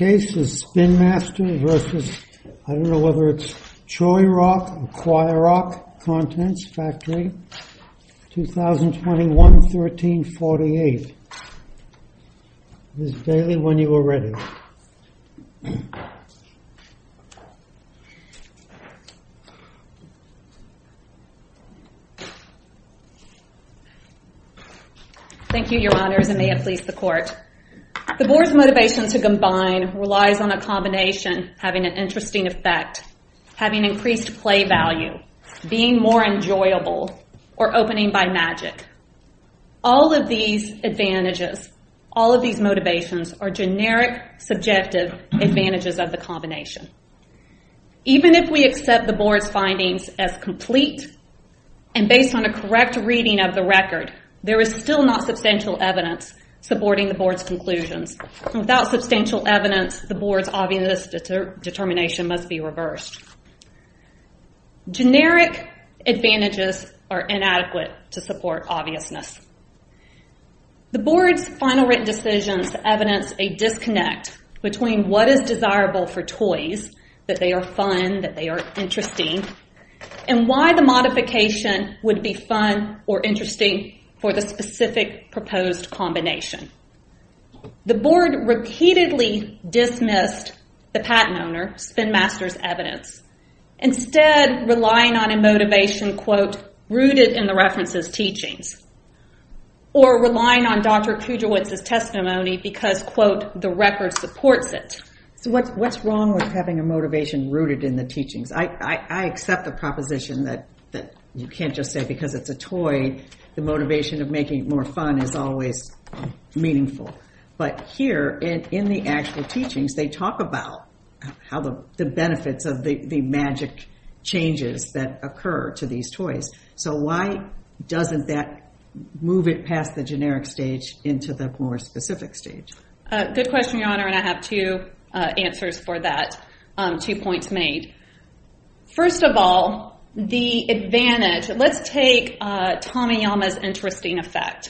2021-13-48 relies on a combination having an interesting effect, having increased play value, being more enjoyable, or opening by magic. All of these advantages, all of these motivations, are generic, subjective advantages of the combination. Even if we accept the Board's findings as complete and based on a correct reading of the record, there is still not substantial evidence the Board's obvious determination must be reversed. Generic advantages are inadequate to support obviousness. The Board's final written decisions evidence a disconnect between what is desirable for toys, that they are fun, that they are interesting, and why the modification would be fun or interesting for the specific proposed combination. The Board repeatedly dismissed the patent owner, Spin Master's evidence, instead relying on a motivation, quote, rooted in the reference's teachings, or relying on Dr. Kudrowitz's testimony because, quote, the record supports it. So what's wrong with having a motivation rooted in the teachings? I accept the proposition that you can't just say because it's a toy, the motivation of making it more fun is always meaningful. But here, in the actual teachings, they talk about the benefits of the magic changes that occur to these toys. So why doesn't that move it past the generic stage into the more specific stage? Good question, Your Honor, and I have two answers for that, two points made. First of all, the advantage of an interesting effect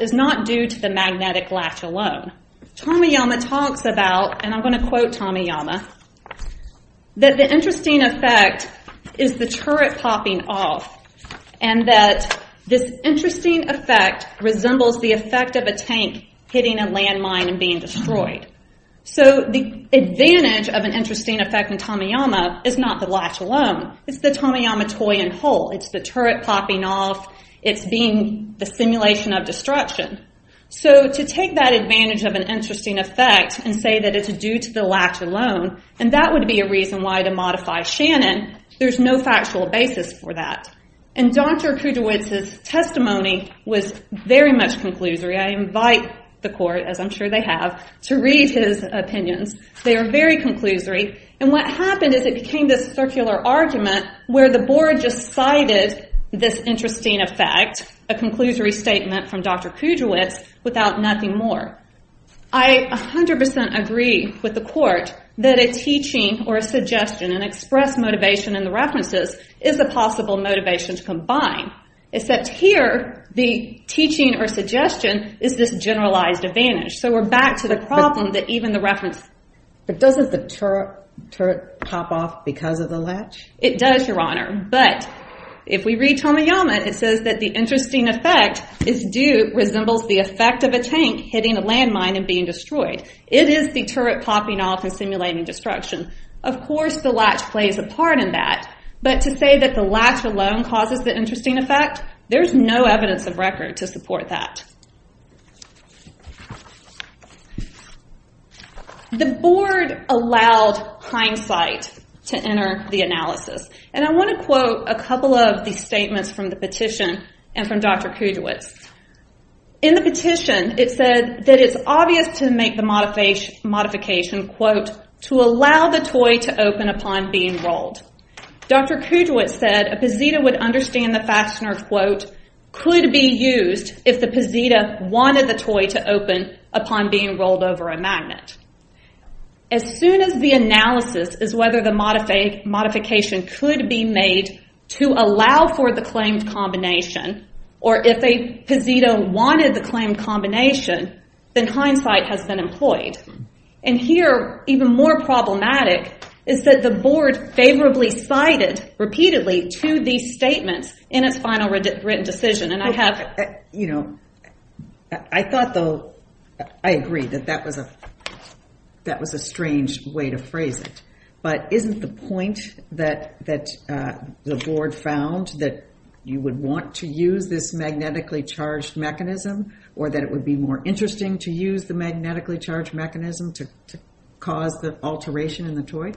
is not due to the magnetic latch alone. Tamiyama talks about, and I'm going to quote Tamiyama, that the interesting effect is the turret popping off and that this interesting effect resembles the effect of a tank hitting a land mine and being destroyed. So the advantage of an interesting effect in Tamiyama is not the latch alone. It's the Tamiyama toy in whole. It's the turret popping off. It's being the simulation of destruction. So to take that advantage of an interesting effect and say that it's due to the latch alone, and that would be a reason why to modify Shannon, there's no factual basis for that. And Dr. Kudrowitz's testimony was very much conclusory. I invite the court, as I'm sure they have, to read his opinions. They are very conclusory. And what happened is it became this circular argument where the board just cited this interesting effect, a conclusory statement from Dr. Kudrowitz, without nothing more. I 100% agree with the court that a teaching or a suggestion, an express motivation in the references, is a possible motivation to combine. Except here, the teaching or suggestion is this generalized advantage. So we're back to the problem that even the reference... It does, Your Honor. But if we read Tamiyama, it says that the interesting effect is due, resembles the effect of a tank hitting a landmine and being destroyed. It is the turret popping off and simulating destruction. Of course, the latch plays a part in that. But to say that the latch alone causes the interesting effect, there's no evidence of record to support that. The board allowed hindsight to enter the analysis. I want to quote a couple of the statements from the petition and from Dr. Kudrowitz. In the petition, it said that it's obvious to make the modification, quote, to allow the toy to open upon being rolled. Dr. Kudrowitz said a Pazita would understand the fastener, quote, could be used if the Pazita wanted the toy to open upon being rolled over a magnet. As soon as the analysis is whether the modification could be made to allow for the claimed combination, or if a Pazita wanted the claimed combination, then hindsight has been employed. Here, even more problematic is that the board favorably sided repeatedly to these statements in its final written decision. I agree that that was a strange way to phrase it, but isn't the point that the board found that you would want to use this magnetically charged mechanism or that it would be more interesting to use the magnetically charged mechanism to cause the alteration in the toy?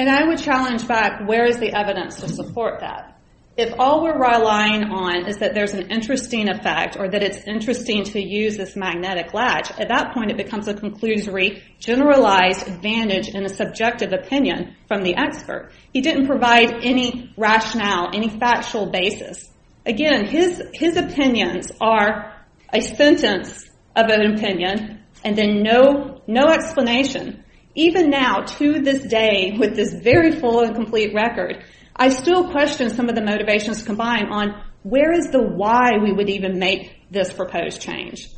I would challenge back, where is the evidence to support that? If all we're relying on is that there's an interesting effect or that it's interesting to use this magnetic latch, at that point it becomes a conclusory, generalized advantage in a subjective opinion from the expert. He didn't provide any rationale, any factual basis. Again, his opinions are a sentence of an opinion, and then no explanation. Even now, to this day, with this very full and complete record, I still question some of the motivations combined on where is the why we would even make this proposed change?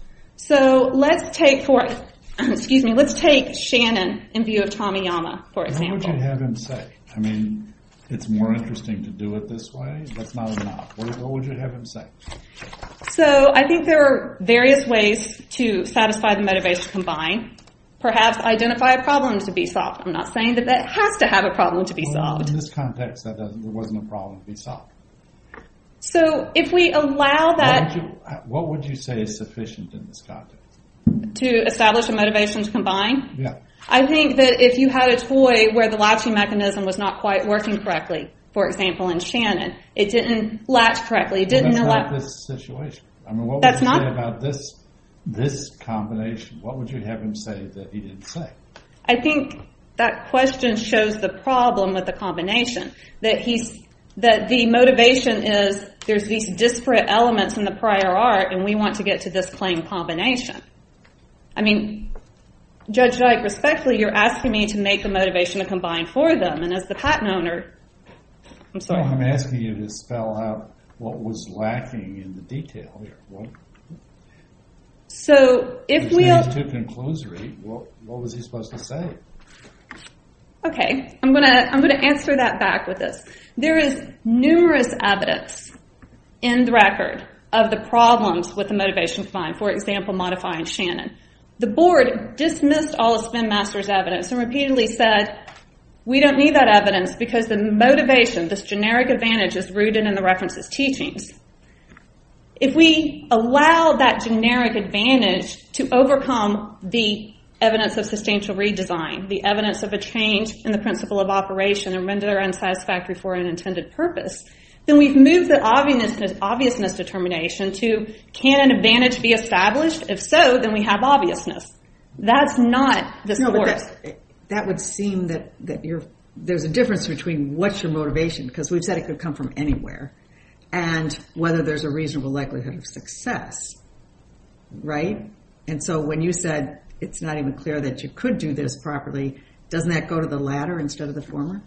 Let's take Shannon in view of Tamiyama, for example. What would you have him say? It's more interesting to do it this way. That's not enough. What would you say is sufficient in this context? To establish a motivation to combine? I think that if you had a toy where the latching mechanism was not quite working correctly, for example in Shannon, it didn't latch correctly. What would you say about this combination? What would you have him say that he didn't say? I think that question shows the problem with the combination. That the motivation is there's these disparate elements in the prior art, and we want to get to this claim combination. Judge Dyke, respectfully, you're asking me to make a motivation to combine for them. I'm asking you to spell out what was lacking in the detail here. What was he supposed to say? I'm going to answer that back with this. There is numerous evidence in the record of the problems with the motivation to combine. For example, modifying Shannon. The board dismissed all of Spin Master's evidence and repeatedly said, we don't need that evidence because the motivation, this generic advantage is rooted in the reference's teachings. If we allow that generic advantage to overcome the evidence of substantial redesign, the evidence of a change in the principle of operation and render unsatisfactory for an intended purpose, then we've moved the obviousness of determination to, can an advantage be established? If so, then we have obviousness. That's not the source. That would seem that there's a difference between what's your motivation, because we've said it could come from anywhere, and whether there's a reasonable likelihood of success. When you said it's not even clear that you could do this properly, doesn't that go to the latter instead of the former?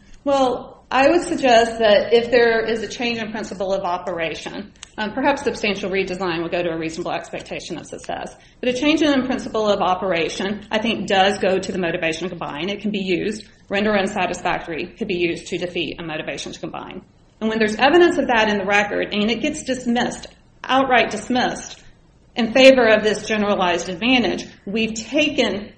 I would suggest that if there is a change in principle of operation, perhaps substantial redesign would go to a reasonable expectation of success, but a change in principle of operation I think does go to the motivation to combine. It can be used. Render unsatisfactory could be used to defeat a motivation to combine. When there's evidence of that in the record and it gets dismissed, outright dismissed, in favor of this generalized advantage, we've taken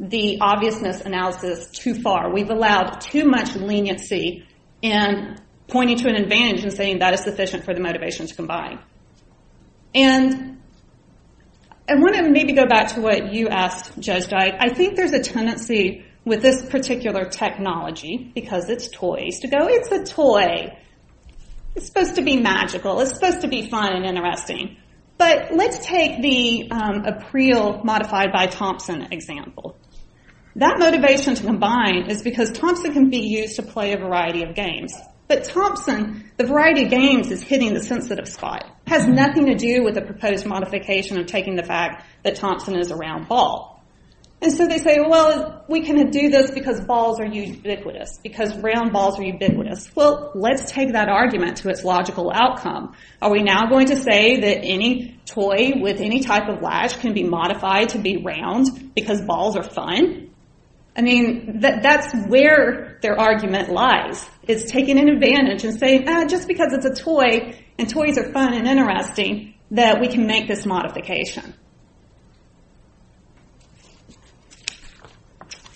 the obviousness analysis too far. We've allowed too much leniency in pointing to an advantage and saying that is sufficient for the motivation to combine. I want to maybe go back to what you asked, Judge Dyke. I think there's a tendency with this particular technology, because it's toys, to go, it's a toy. It's supposed to be magical. It's supposed to be fun and interesting. Let's take the apreel modified by Thompson example. That motivation to combine is because Thompson can be used to play a variety of games, but Thompson, the variety of games, is hitting the sensitive spot. It has nothing to do with the proposed modification of taking the fact that Thompson is a round ball. They say, well, we can do this because balls are ubiquitous, because round balls are ubiquitous. Let's take that argument to its logical outcome. Are we now going to say that any toy with any type of latch can be modified to be round because balls are fun? That's where their argument lies. It's taking an advantage and saying, just because it's a toy and toys are fun and interesting, that we can make this modification.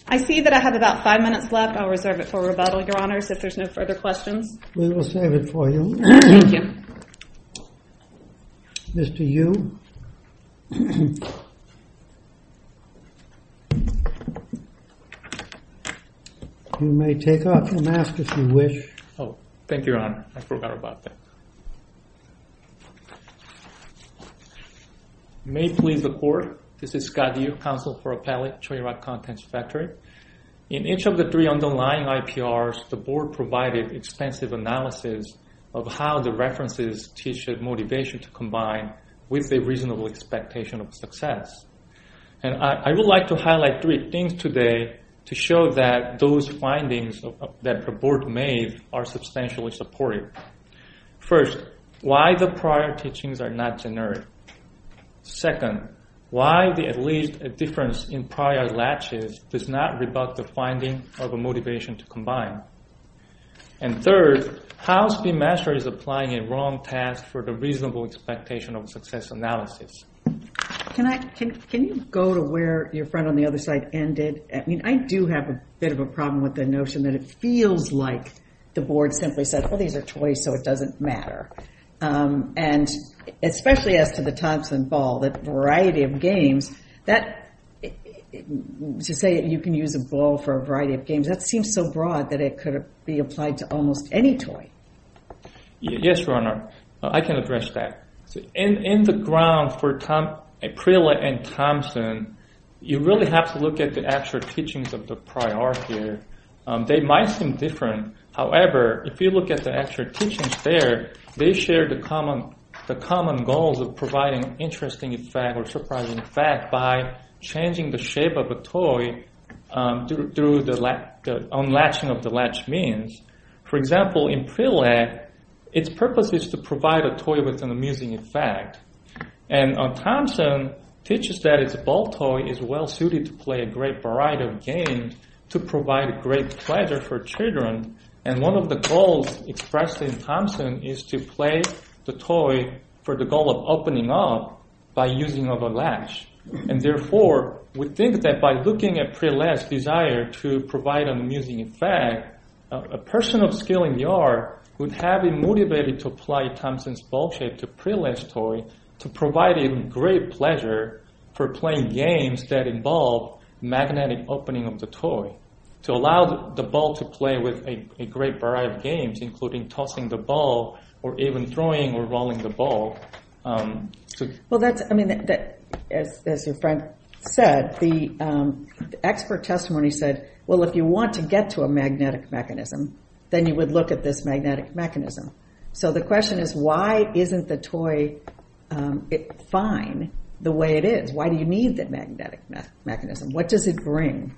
I see that I have about five minutes left. I'll reserve it for rebuttal, Your Honors, if there's no further questions. We will save it for you. Thank you. Mr. Yu, you may take off your mask if you wish. Thank you, Your Honor. I forgot about that. May it please the Court, this is Scott Yu, counsel for Appellate Choi Rock Contents Factory. In each of the three underlying IPRs, the Board provided extensive analysis of how the references teach a motivation to combine with a reasonable expectation of success. I would like to highlight three things today to show that those findings that the Board made are substantially supportive. First, why the prior teachings are not generic. Second, why the at least a difference in prior latches does not rebut the finding of a motivation to combine. And third, how Speedmaster is applying a wrong task for the reasonable expectation of success analysis. Can you go to where your friend on the other side ended? I do have a bit of a problem with the notion that it feels like the Board simply said, well, these are toys, so it doesn't matter. And especially as to the Thompson ball, that variety of games, to say you can use a ball for a variety of games, that seems so broad that it could be applied to almost any toy. Yes, Your Honor. I can address that. In the ground for Aprila and Thompson, you really have to look at the actual teachings of the prior here. They might seem different. However, if you look at the actual teachings there, they share the common goals of providing interesting effect or surprising effect by changing the shape of a toy through the unlatching of the latch means. For example, in Prelag, its purpose is to provide a toy with an amusing effect. And Thompson teaches that its ball toy is well suited to play a great variety of games to provide great pleasure for children. And one of the goals expressed in Thompson is to play the toy for the goal of opening up by using of a latch. And therefore, we think that by looking at Prelag's desire to provide an amusing effect, a person of skill in the art would have been motivated to apply Thompson's ball shape to Prelag's toy to provide him great pleasure for playing games that involve magnetic opening of the toy to allow the ball to play with a great variety of games including tossing the ball or even throwing or rolling the ball. Well that's, I mean, as your friend said, the expert testimony said, well if you want to get to a magnetic mechanism, then you would look at this magnetic mechanism. So the question is why isn't the toy fine the way it is? Why do you need that magnetic mechanism? What does it bring?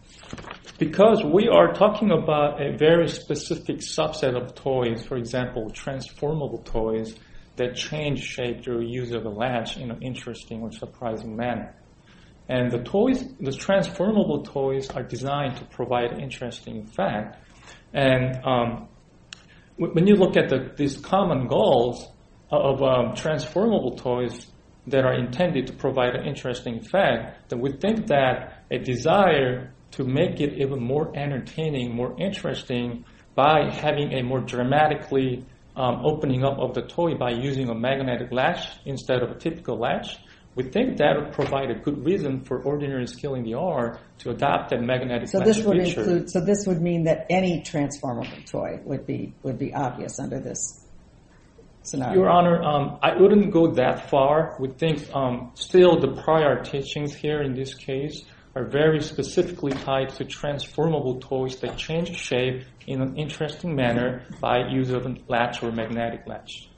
Because we are talking about a very specific subset of toys, for example, transformable toys that change shape through use of a latch in an interesting or surprising manner. And the toys, the transformable toys are designed to provide interesting effect. And when you look at these common goals of transformable toys that are intended to provide an interesting effect, that we think that a desire to make it even more entertaining, more interesting by having a more dramatically opening up of the toy by using a magnetic latch instead of a typical latch, we think that would provide a good reason for ordinary skill in the art to adopt that magnetic latch feature. So this would mean that any transformable toy would be obvious under this scenario? Your Honor, I wouldn't go that far. We think still the prior teachings here in this case are very specifically tied to transformable toys that change shape in an interesting manner by use of a latch or magnetic latch.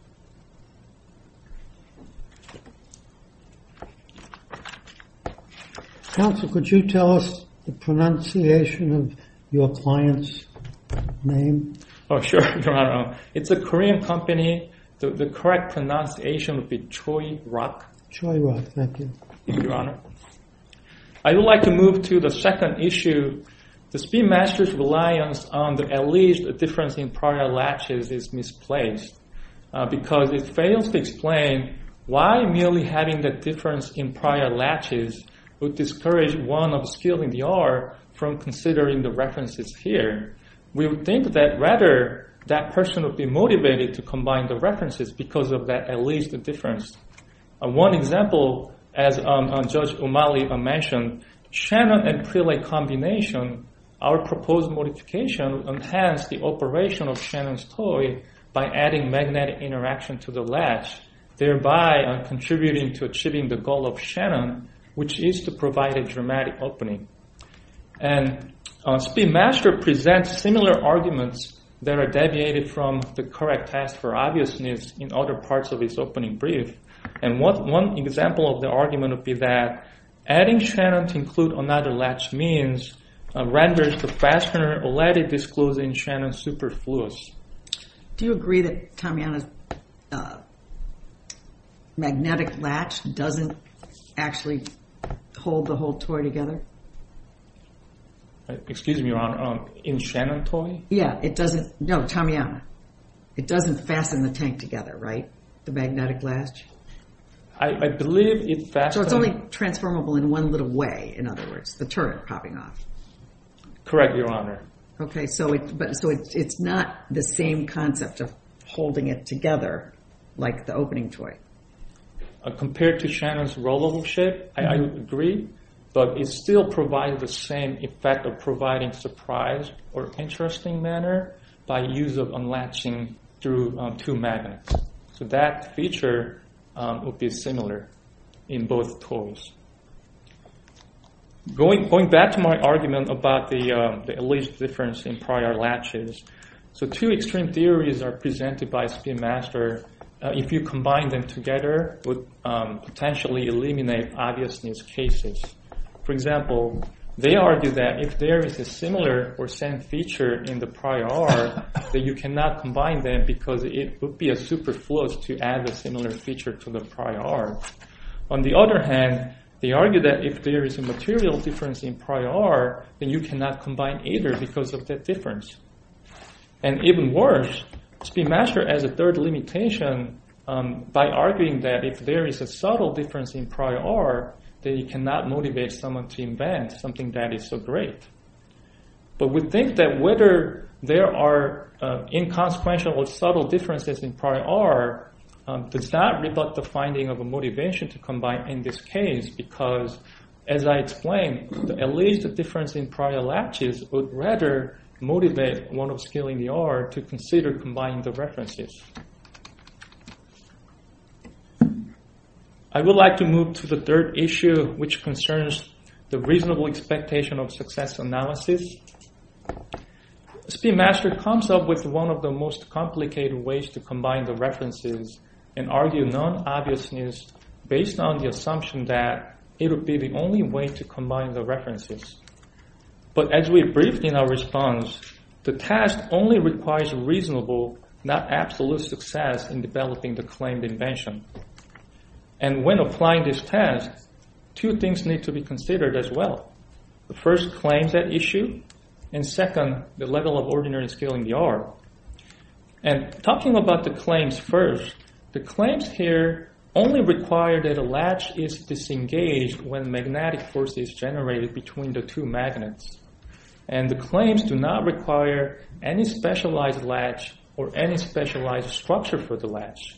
Counsel, could you tell us the pronunciation of your client's name? Oh, sure, Your Honor. It's a Korean company. The correct pronunciation would be Choi Rock. I would like to move to the second issue. The Speedmaster's reliance on at least a difference in prior latches is misplaced because it fails to explain why merely having that difference in prior latches would discourage one of skill in the art from considering the references here. We would think that rather that person would be motivated to combine the references because of that at least difference. One example, as Judge O'Malley mentioned, Shannon and Prelay combination, our proposed modification, enhance the operation of Shannon's toy by adding magnetic interaction to the latch, thereby contributing to achieving the goal of Shannon, which is to provide a dramatic opening. Speedmaster presents similar arguments that are deviated from the correct test for obviousness in other parts of his opening brief. One example of the argument would be that adding Shannon to include another latch means renders the fastener or lattice disclosed in Shannon superfluous. Do you agree that Tamiyana's magnetic latch doesn't actually hold the whole toy together? Excuse me, Your Honor, in Shannon toy? Yeah, it doesn't. No, Tamiyana. It doesn't fasten the tank together, right? The magnetic latch? I believe it fastens... So it's only transformable in one little way, in other words, the turret popping off. Correct, Your Honor. Okay, so it's not the same concept of holding it together like the opening toy. Compared to Shannon's rollable shape, I agree, but it still provides the same effect of providing a surprise or interesting manner by use of unlatching through two magnets. So that feature would be similar in both toys. Going back to my argument about the at least difference in prior latches, two extreme theories are presented by Speedmaster. If you combine them together, it would potentially eliminate obviousness cases. For example, they argue that if there is a similar or same feature in the prior R, then you cannot combine them because it would be a superfluous to add a similar feature to the prior R. On the other hand, they argue that if there is a material difference in prior R, then you cannot combine either because of that difference. And even worse, Speedmaster has a third limitation by arguing that if there is a subtle difference in prior R, then you cannot motivate someone to invent something that is so great. But we think that whether there are inconsequential or subtle differences in prior R does not rebut the finding of a motivation to combine in this case because, as I explained, at least the difference in prior latches would rather motivate one of scaling the R to consider combining the references. I would like to move to the third issue, which concerns the reasonable expectation of success analysis. Speedmaster comes up with one of the most complicated ways to combine the references and argue non-obviousness based on the assumption that it would be the only way to combine the absolute success in developing the claimed invention. And when applying this task, two things need to be considered as well. The first claim that issue, and second, the level of ordinary scaling the R. And talking about the claims first, the claims here only require that a latch is disengaged when magnetic force is generated between the two magnets. And the claims do not require any specialized latch or any specialized structure for the latch.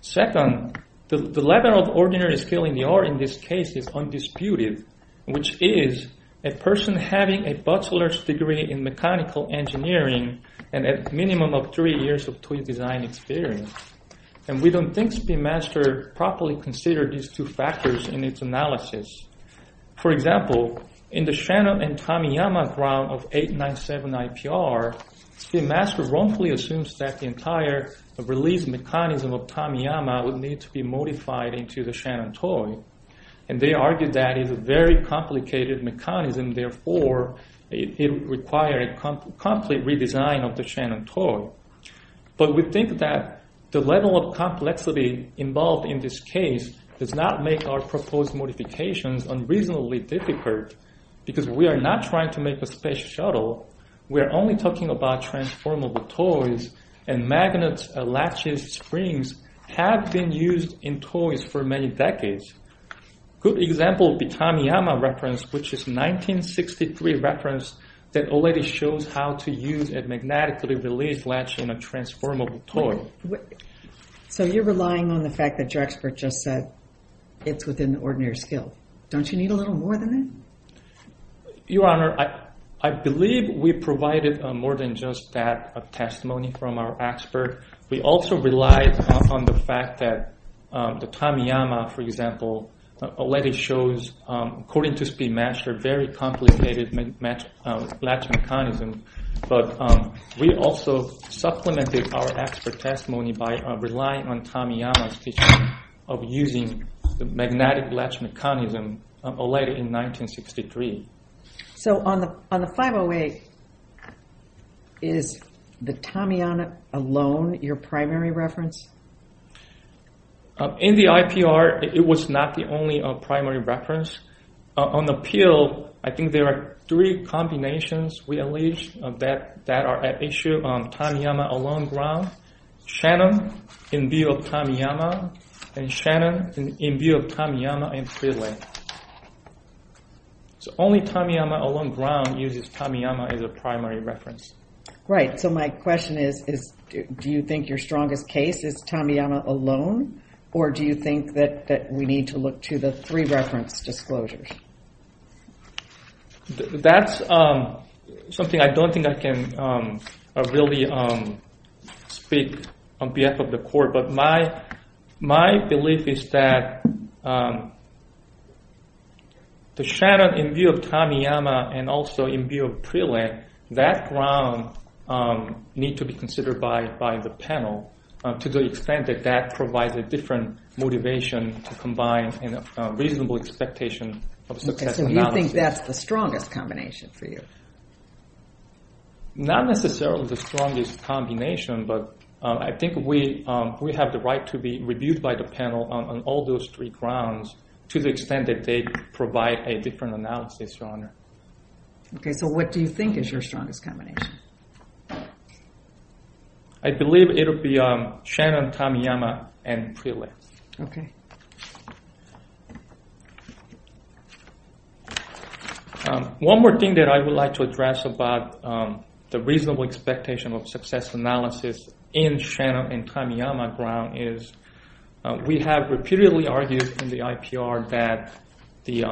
Second, the level of ordinary scaling the R in this case is undisputed, which is a person having a bachelor's degree in mechanical engineering and a minimum of three years of toy design experience. And we don't think Speedmaster properly considered these two factors in its background of 897 IPR. Speedmaster wrongfully assumes that the entire release mechanism of Tamiyama would need to be modified into the Shannon toy. And they argued that is a very complicated mechanism. Therefore, it would require a complete redesign of the Shannon toy. But we think that the level of complexity involved in this case does not make our proposed modifications unreasonably difficult. Because we are not trying to make a space shuttle. We're only talking about transformable toys. And magnets, latches, springs have been used in toys for many decades. Good example of the Tamiyama reference, which is 1963 reference that already shows how to use a magnetically released latch in a transformable toy. So you're relying on the fact that your expert just said it's within the ordinary scale. Don't you need a little more than that? Your Honor, I believe we provided more than just that testimony from our expert. We also relied on the fact that the Tamiyama, for example, already shows, according to Speedmaster, a very complicated latch mechanism. But we also supplemented our expert testimony by relying on Tamiyama's teaching of using the magnetic latch mechanism in 1963. So on the 508, is the Tamiyama alone your primary reference? In the IPR, it was not the only primary reference. On the appeal, I think there are three combinations we allege that are at issue on Tamiyama alone ground. Shannon, in view of Tamiyama, and Shannon, in view of Tamiyama and Speedland. So only Tamiyama alone ground uses Tamiyama as a primary reference. Right. So my question is, do you think your strongest case is Tamiyama alone? Or do you think that we need to look to the three reference disclosures? That's something I don't think I can really speak on behalf of the court. But my belief is that the Shannon in view of Tamiyama and also in view of Preland, that ground needs to be considered by the panel to the extent that that provides a different motivation to combine a reasonable expectation of success. So you think that's the strongest combination for you? Not necessarily the strongest combination, but I think we have the right to be reviewed by the panel on all those three grounds to the extent that they provide a different analysis, Your Honor. Okay, so what do you think is your strongest combination? I believe it will be Shannon, Tamiyama, and Preland. Okay. One more thing that I would like to address about the reasonable expectation of success analysis in Shannon and Tamiyama ground is we have repeatedly argued in the IPR that the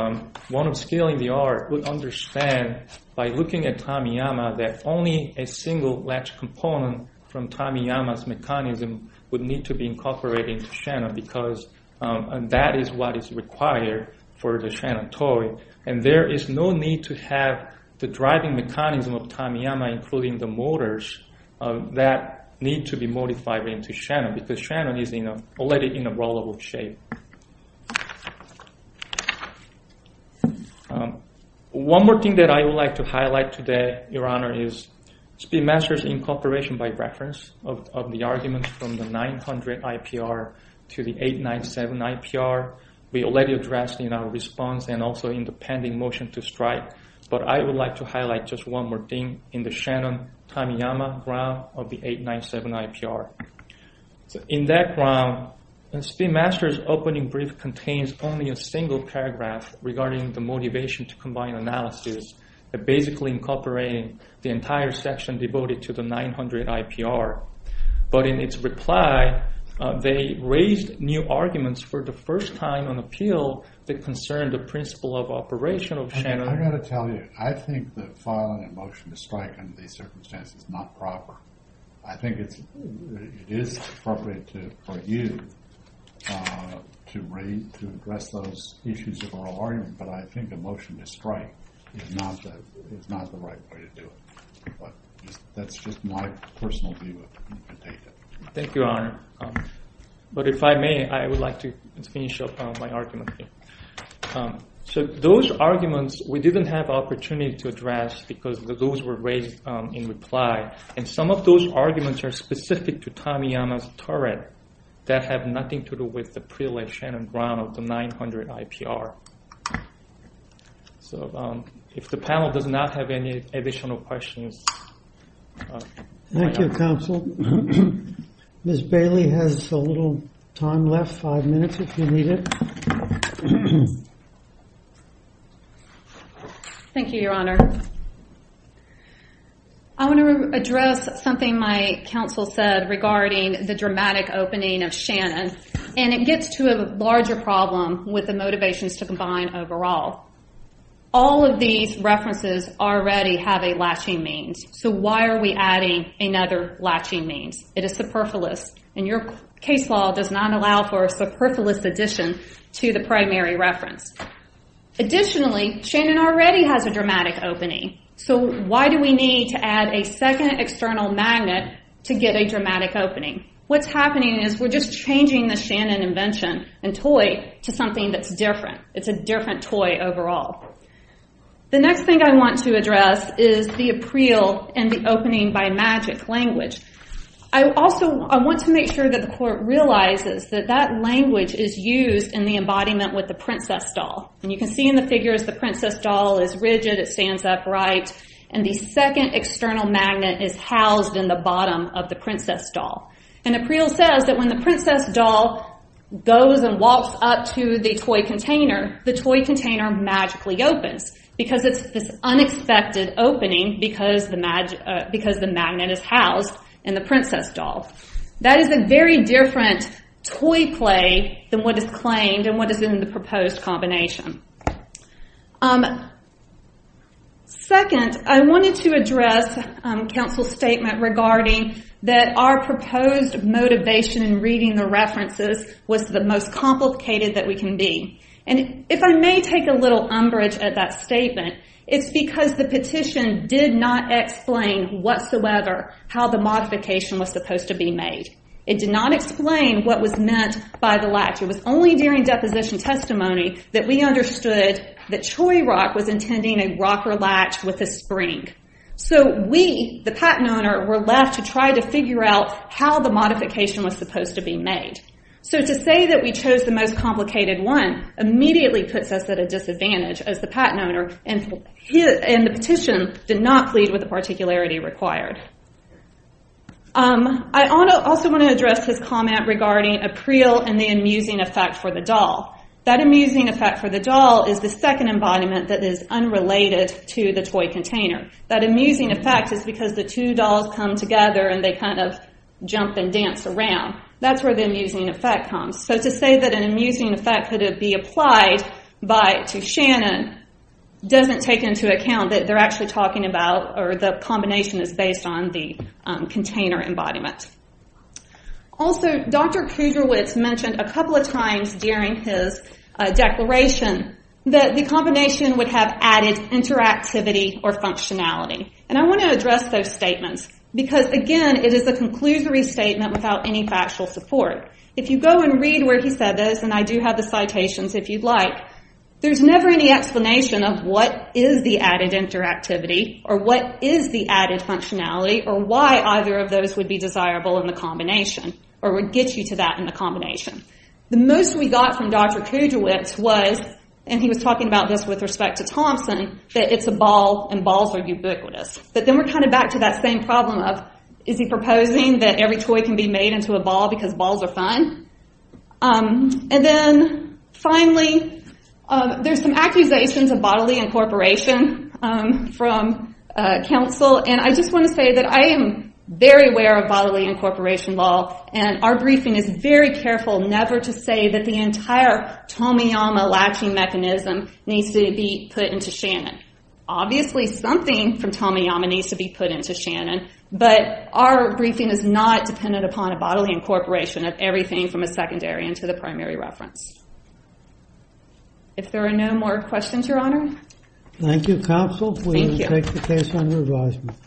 one of scaling the art would understand by looking at Tamiyama that only a single latch component from Tamiyama's mechanism would need to be incorporated into Shannon because that is what is required for the Shannon toy. And there is no need to have the driving mechanism of Tamiyama, including the motors, that need to be modified into Shannon because Shannon is already in a rollable shape. One more thing that I would like to highlight today, Your Honor, is Speedmaster's incorporation by reference of the arguments from the 900 IPR to the 897 IPR. We already addressed in our response and also in the pending motion to strike, but I would like to highlight just one more thing in the Shannon-Tamiyama ground of the 897 IPR. In that ground, Speedmaster's opening brief contains only a single paragraph regarding the motivation to combine analysis, basically incorporating the entire section devoted to the 900 IPR. But in its reply, they raised new arguments for the first time on appeal that concern the principle of operation of Shannon. I've got to tell you, I think that filing a motion to strike under these circumstances is not proper. I think it is appropriate for you to address those issues of oral argument, but I think a motion to strike is not the right way to do it. But that's just my personal view of the data. Thank you, Your Honor. But if I may, I would like to finish up my argument here. So those arguments, we didn't have an opportunity to address because those were raised in reply, and some of those arguments are specific to Tamiyama's turret that have nothing to do with the pre-laid Shannon ground of the 900 IPR. So if the panel does not have any additional questions... Thank you, Counsel. Ms. Bailey has a little time left, five minutes if you need it. Thank you, Your Honor. I want to address something my counsel said regarding the dramatic opening of Shannon, and it gets to a larger problem with the motivations to combine overall. All of these references already have a latching means, so why are we adding another latching means? It is superfluous, and your case law does not allow for a superfluous addition to the primary reference. Additionally, Shannon already has a dramatic opening, so why do we need to add a second external magnet to get a dramatic opening? What's happening is we're just changing the Shannon invention and toy to something that's different. It's a different toy overall. The next thing I want to address is the appreal and the opening by magic language. I want to make sure that the court realizes that that language is used in the embodiment with the princess doll. You can see in the figures the princess doll is rigid, it stands upright, and the second external magnet is housed in the bottom of the princess doll. Appreal says that when the princess doll goes and walks up to the toy container, the toy container magically opens because it's this unexpected opening because the magnet is housed in the princess doll. That is a very different toy play than what is claimed and what is in the proposed combination. Second, I wanted to address counsel's statement regarding that our proposed motivation in reading the references was the most complicated that we can be. If I may take a little umbrage at that statement, it's because the petition did not explain whatsoever how the modification was supposed to be made. It did not explain what was meant by the latch. It was only during deposition testimony that we understood that Troy Rock was intending a rocker latch with a spring. We, the patent owner, were left to try to figure out how the modification was supposed to be made. To say that we chose the most complicated one immediately puts us at a disadvantage as the patent owner, and the petition did not plead with the particularity required. I also want to address his comment regarding Appreal and the amusing effect for the doll. That amusing effect for the doll is the second embodiment that is unrelated to the toy container. That amusing effect is because the two dolls come together and they jump and dance around. That's where the amusing effect comes. To say that an amusing effect could be applied to Shannon doesn't take into account that they're actually talking about the combination is based on the container embodiment. Also, Dr. Kudrowitz mentioned a couple of times during his declaration that the combination would have added interactivity or functionality. I want to address those statements because, again, it is a There's never any explanation of what is the added interactivity or what is the added functionality or why either of those would be desirable in the combination or would get you to that in the combination. The most we got from Dr. Kudrowitz was, and he was talking about this with respect to Thompson, that it's a ball and balls are ubiquitous. Then we're kind of back to that same problem of, is he proposing that every toy can be made into a ball because balls are fun? Finally, there's some accusations of bodily incorporation from counsel. I just want to say that I am very aware of bodily incorporation law and our briefing is very careful never to say that the entire Tomoyama latching mechanism needs to be put into Shannon. Obviously, something from Tomoyama needs to be put into Shannon, but our briefing is not dependent upon a bodily incorporation of everything from a secondary into the primary reference. If there are no more questions, Your Honor. Thank you, counsel. Thank you.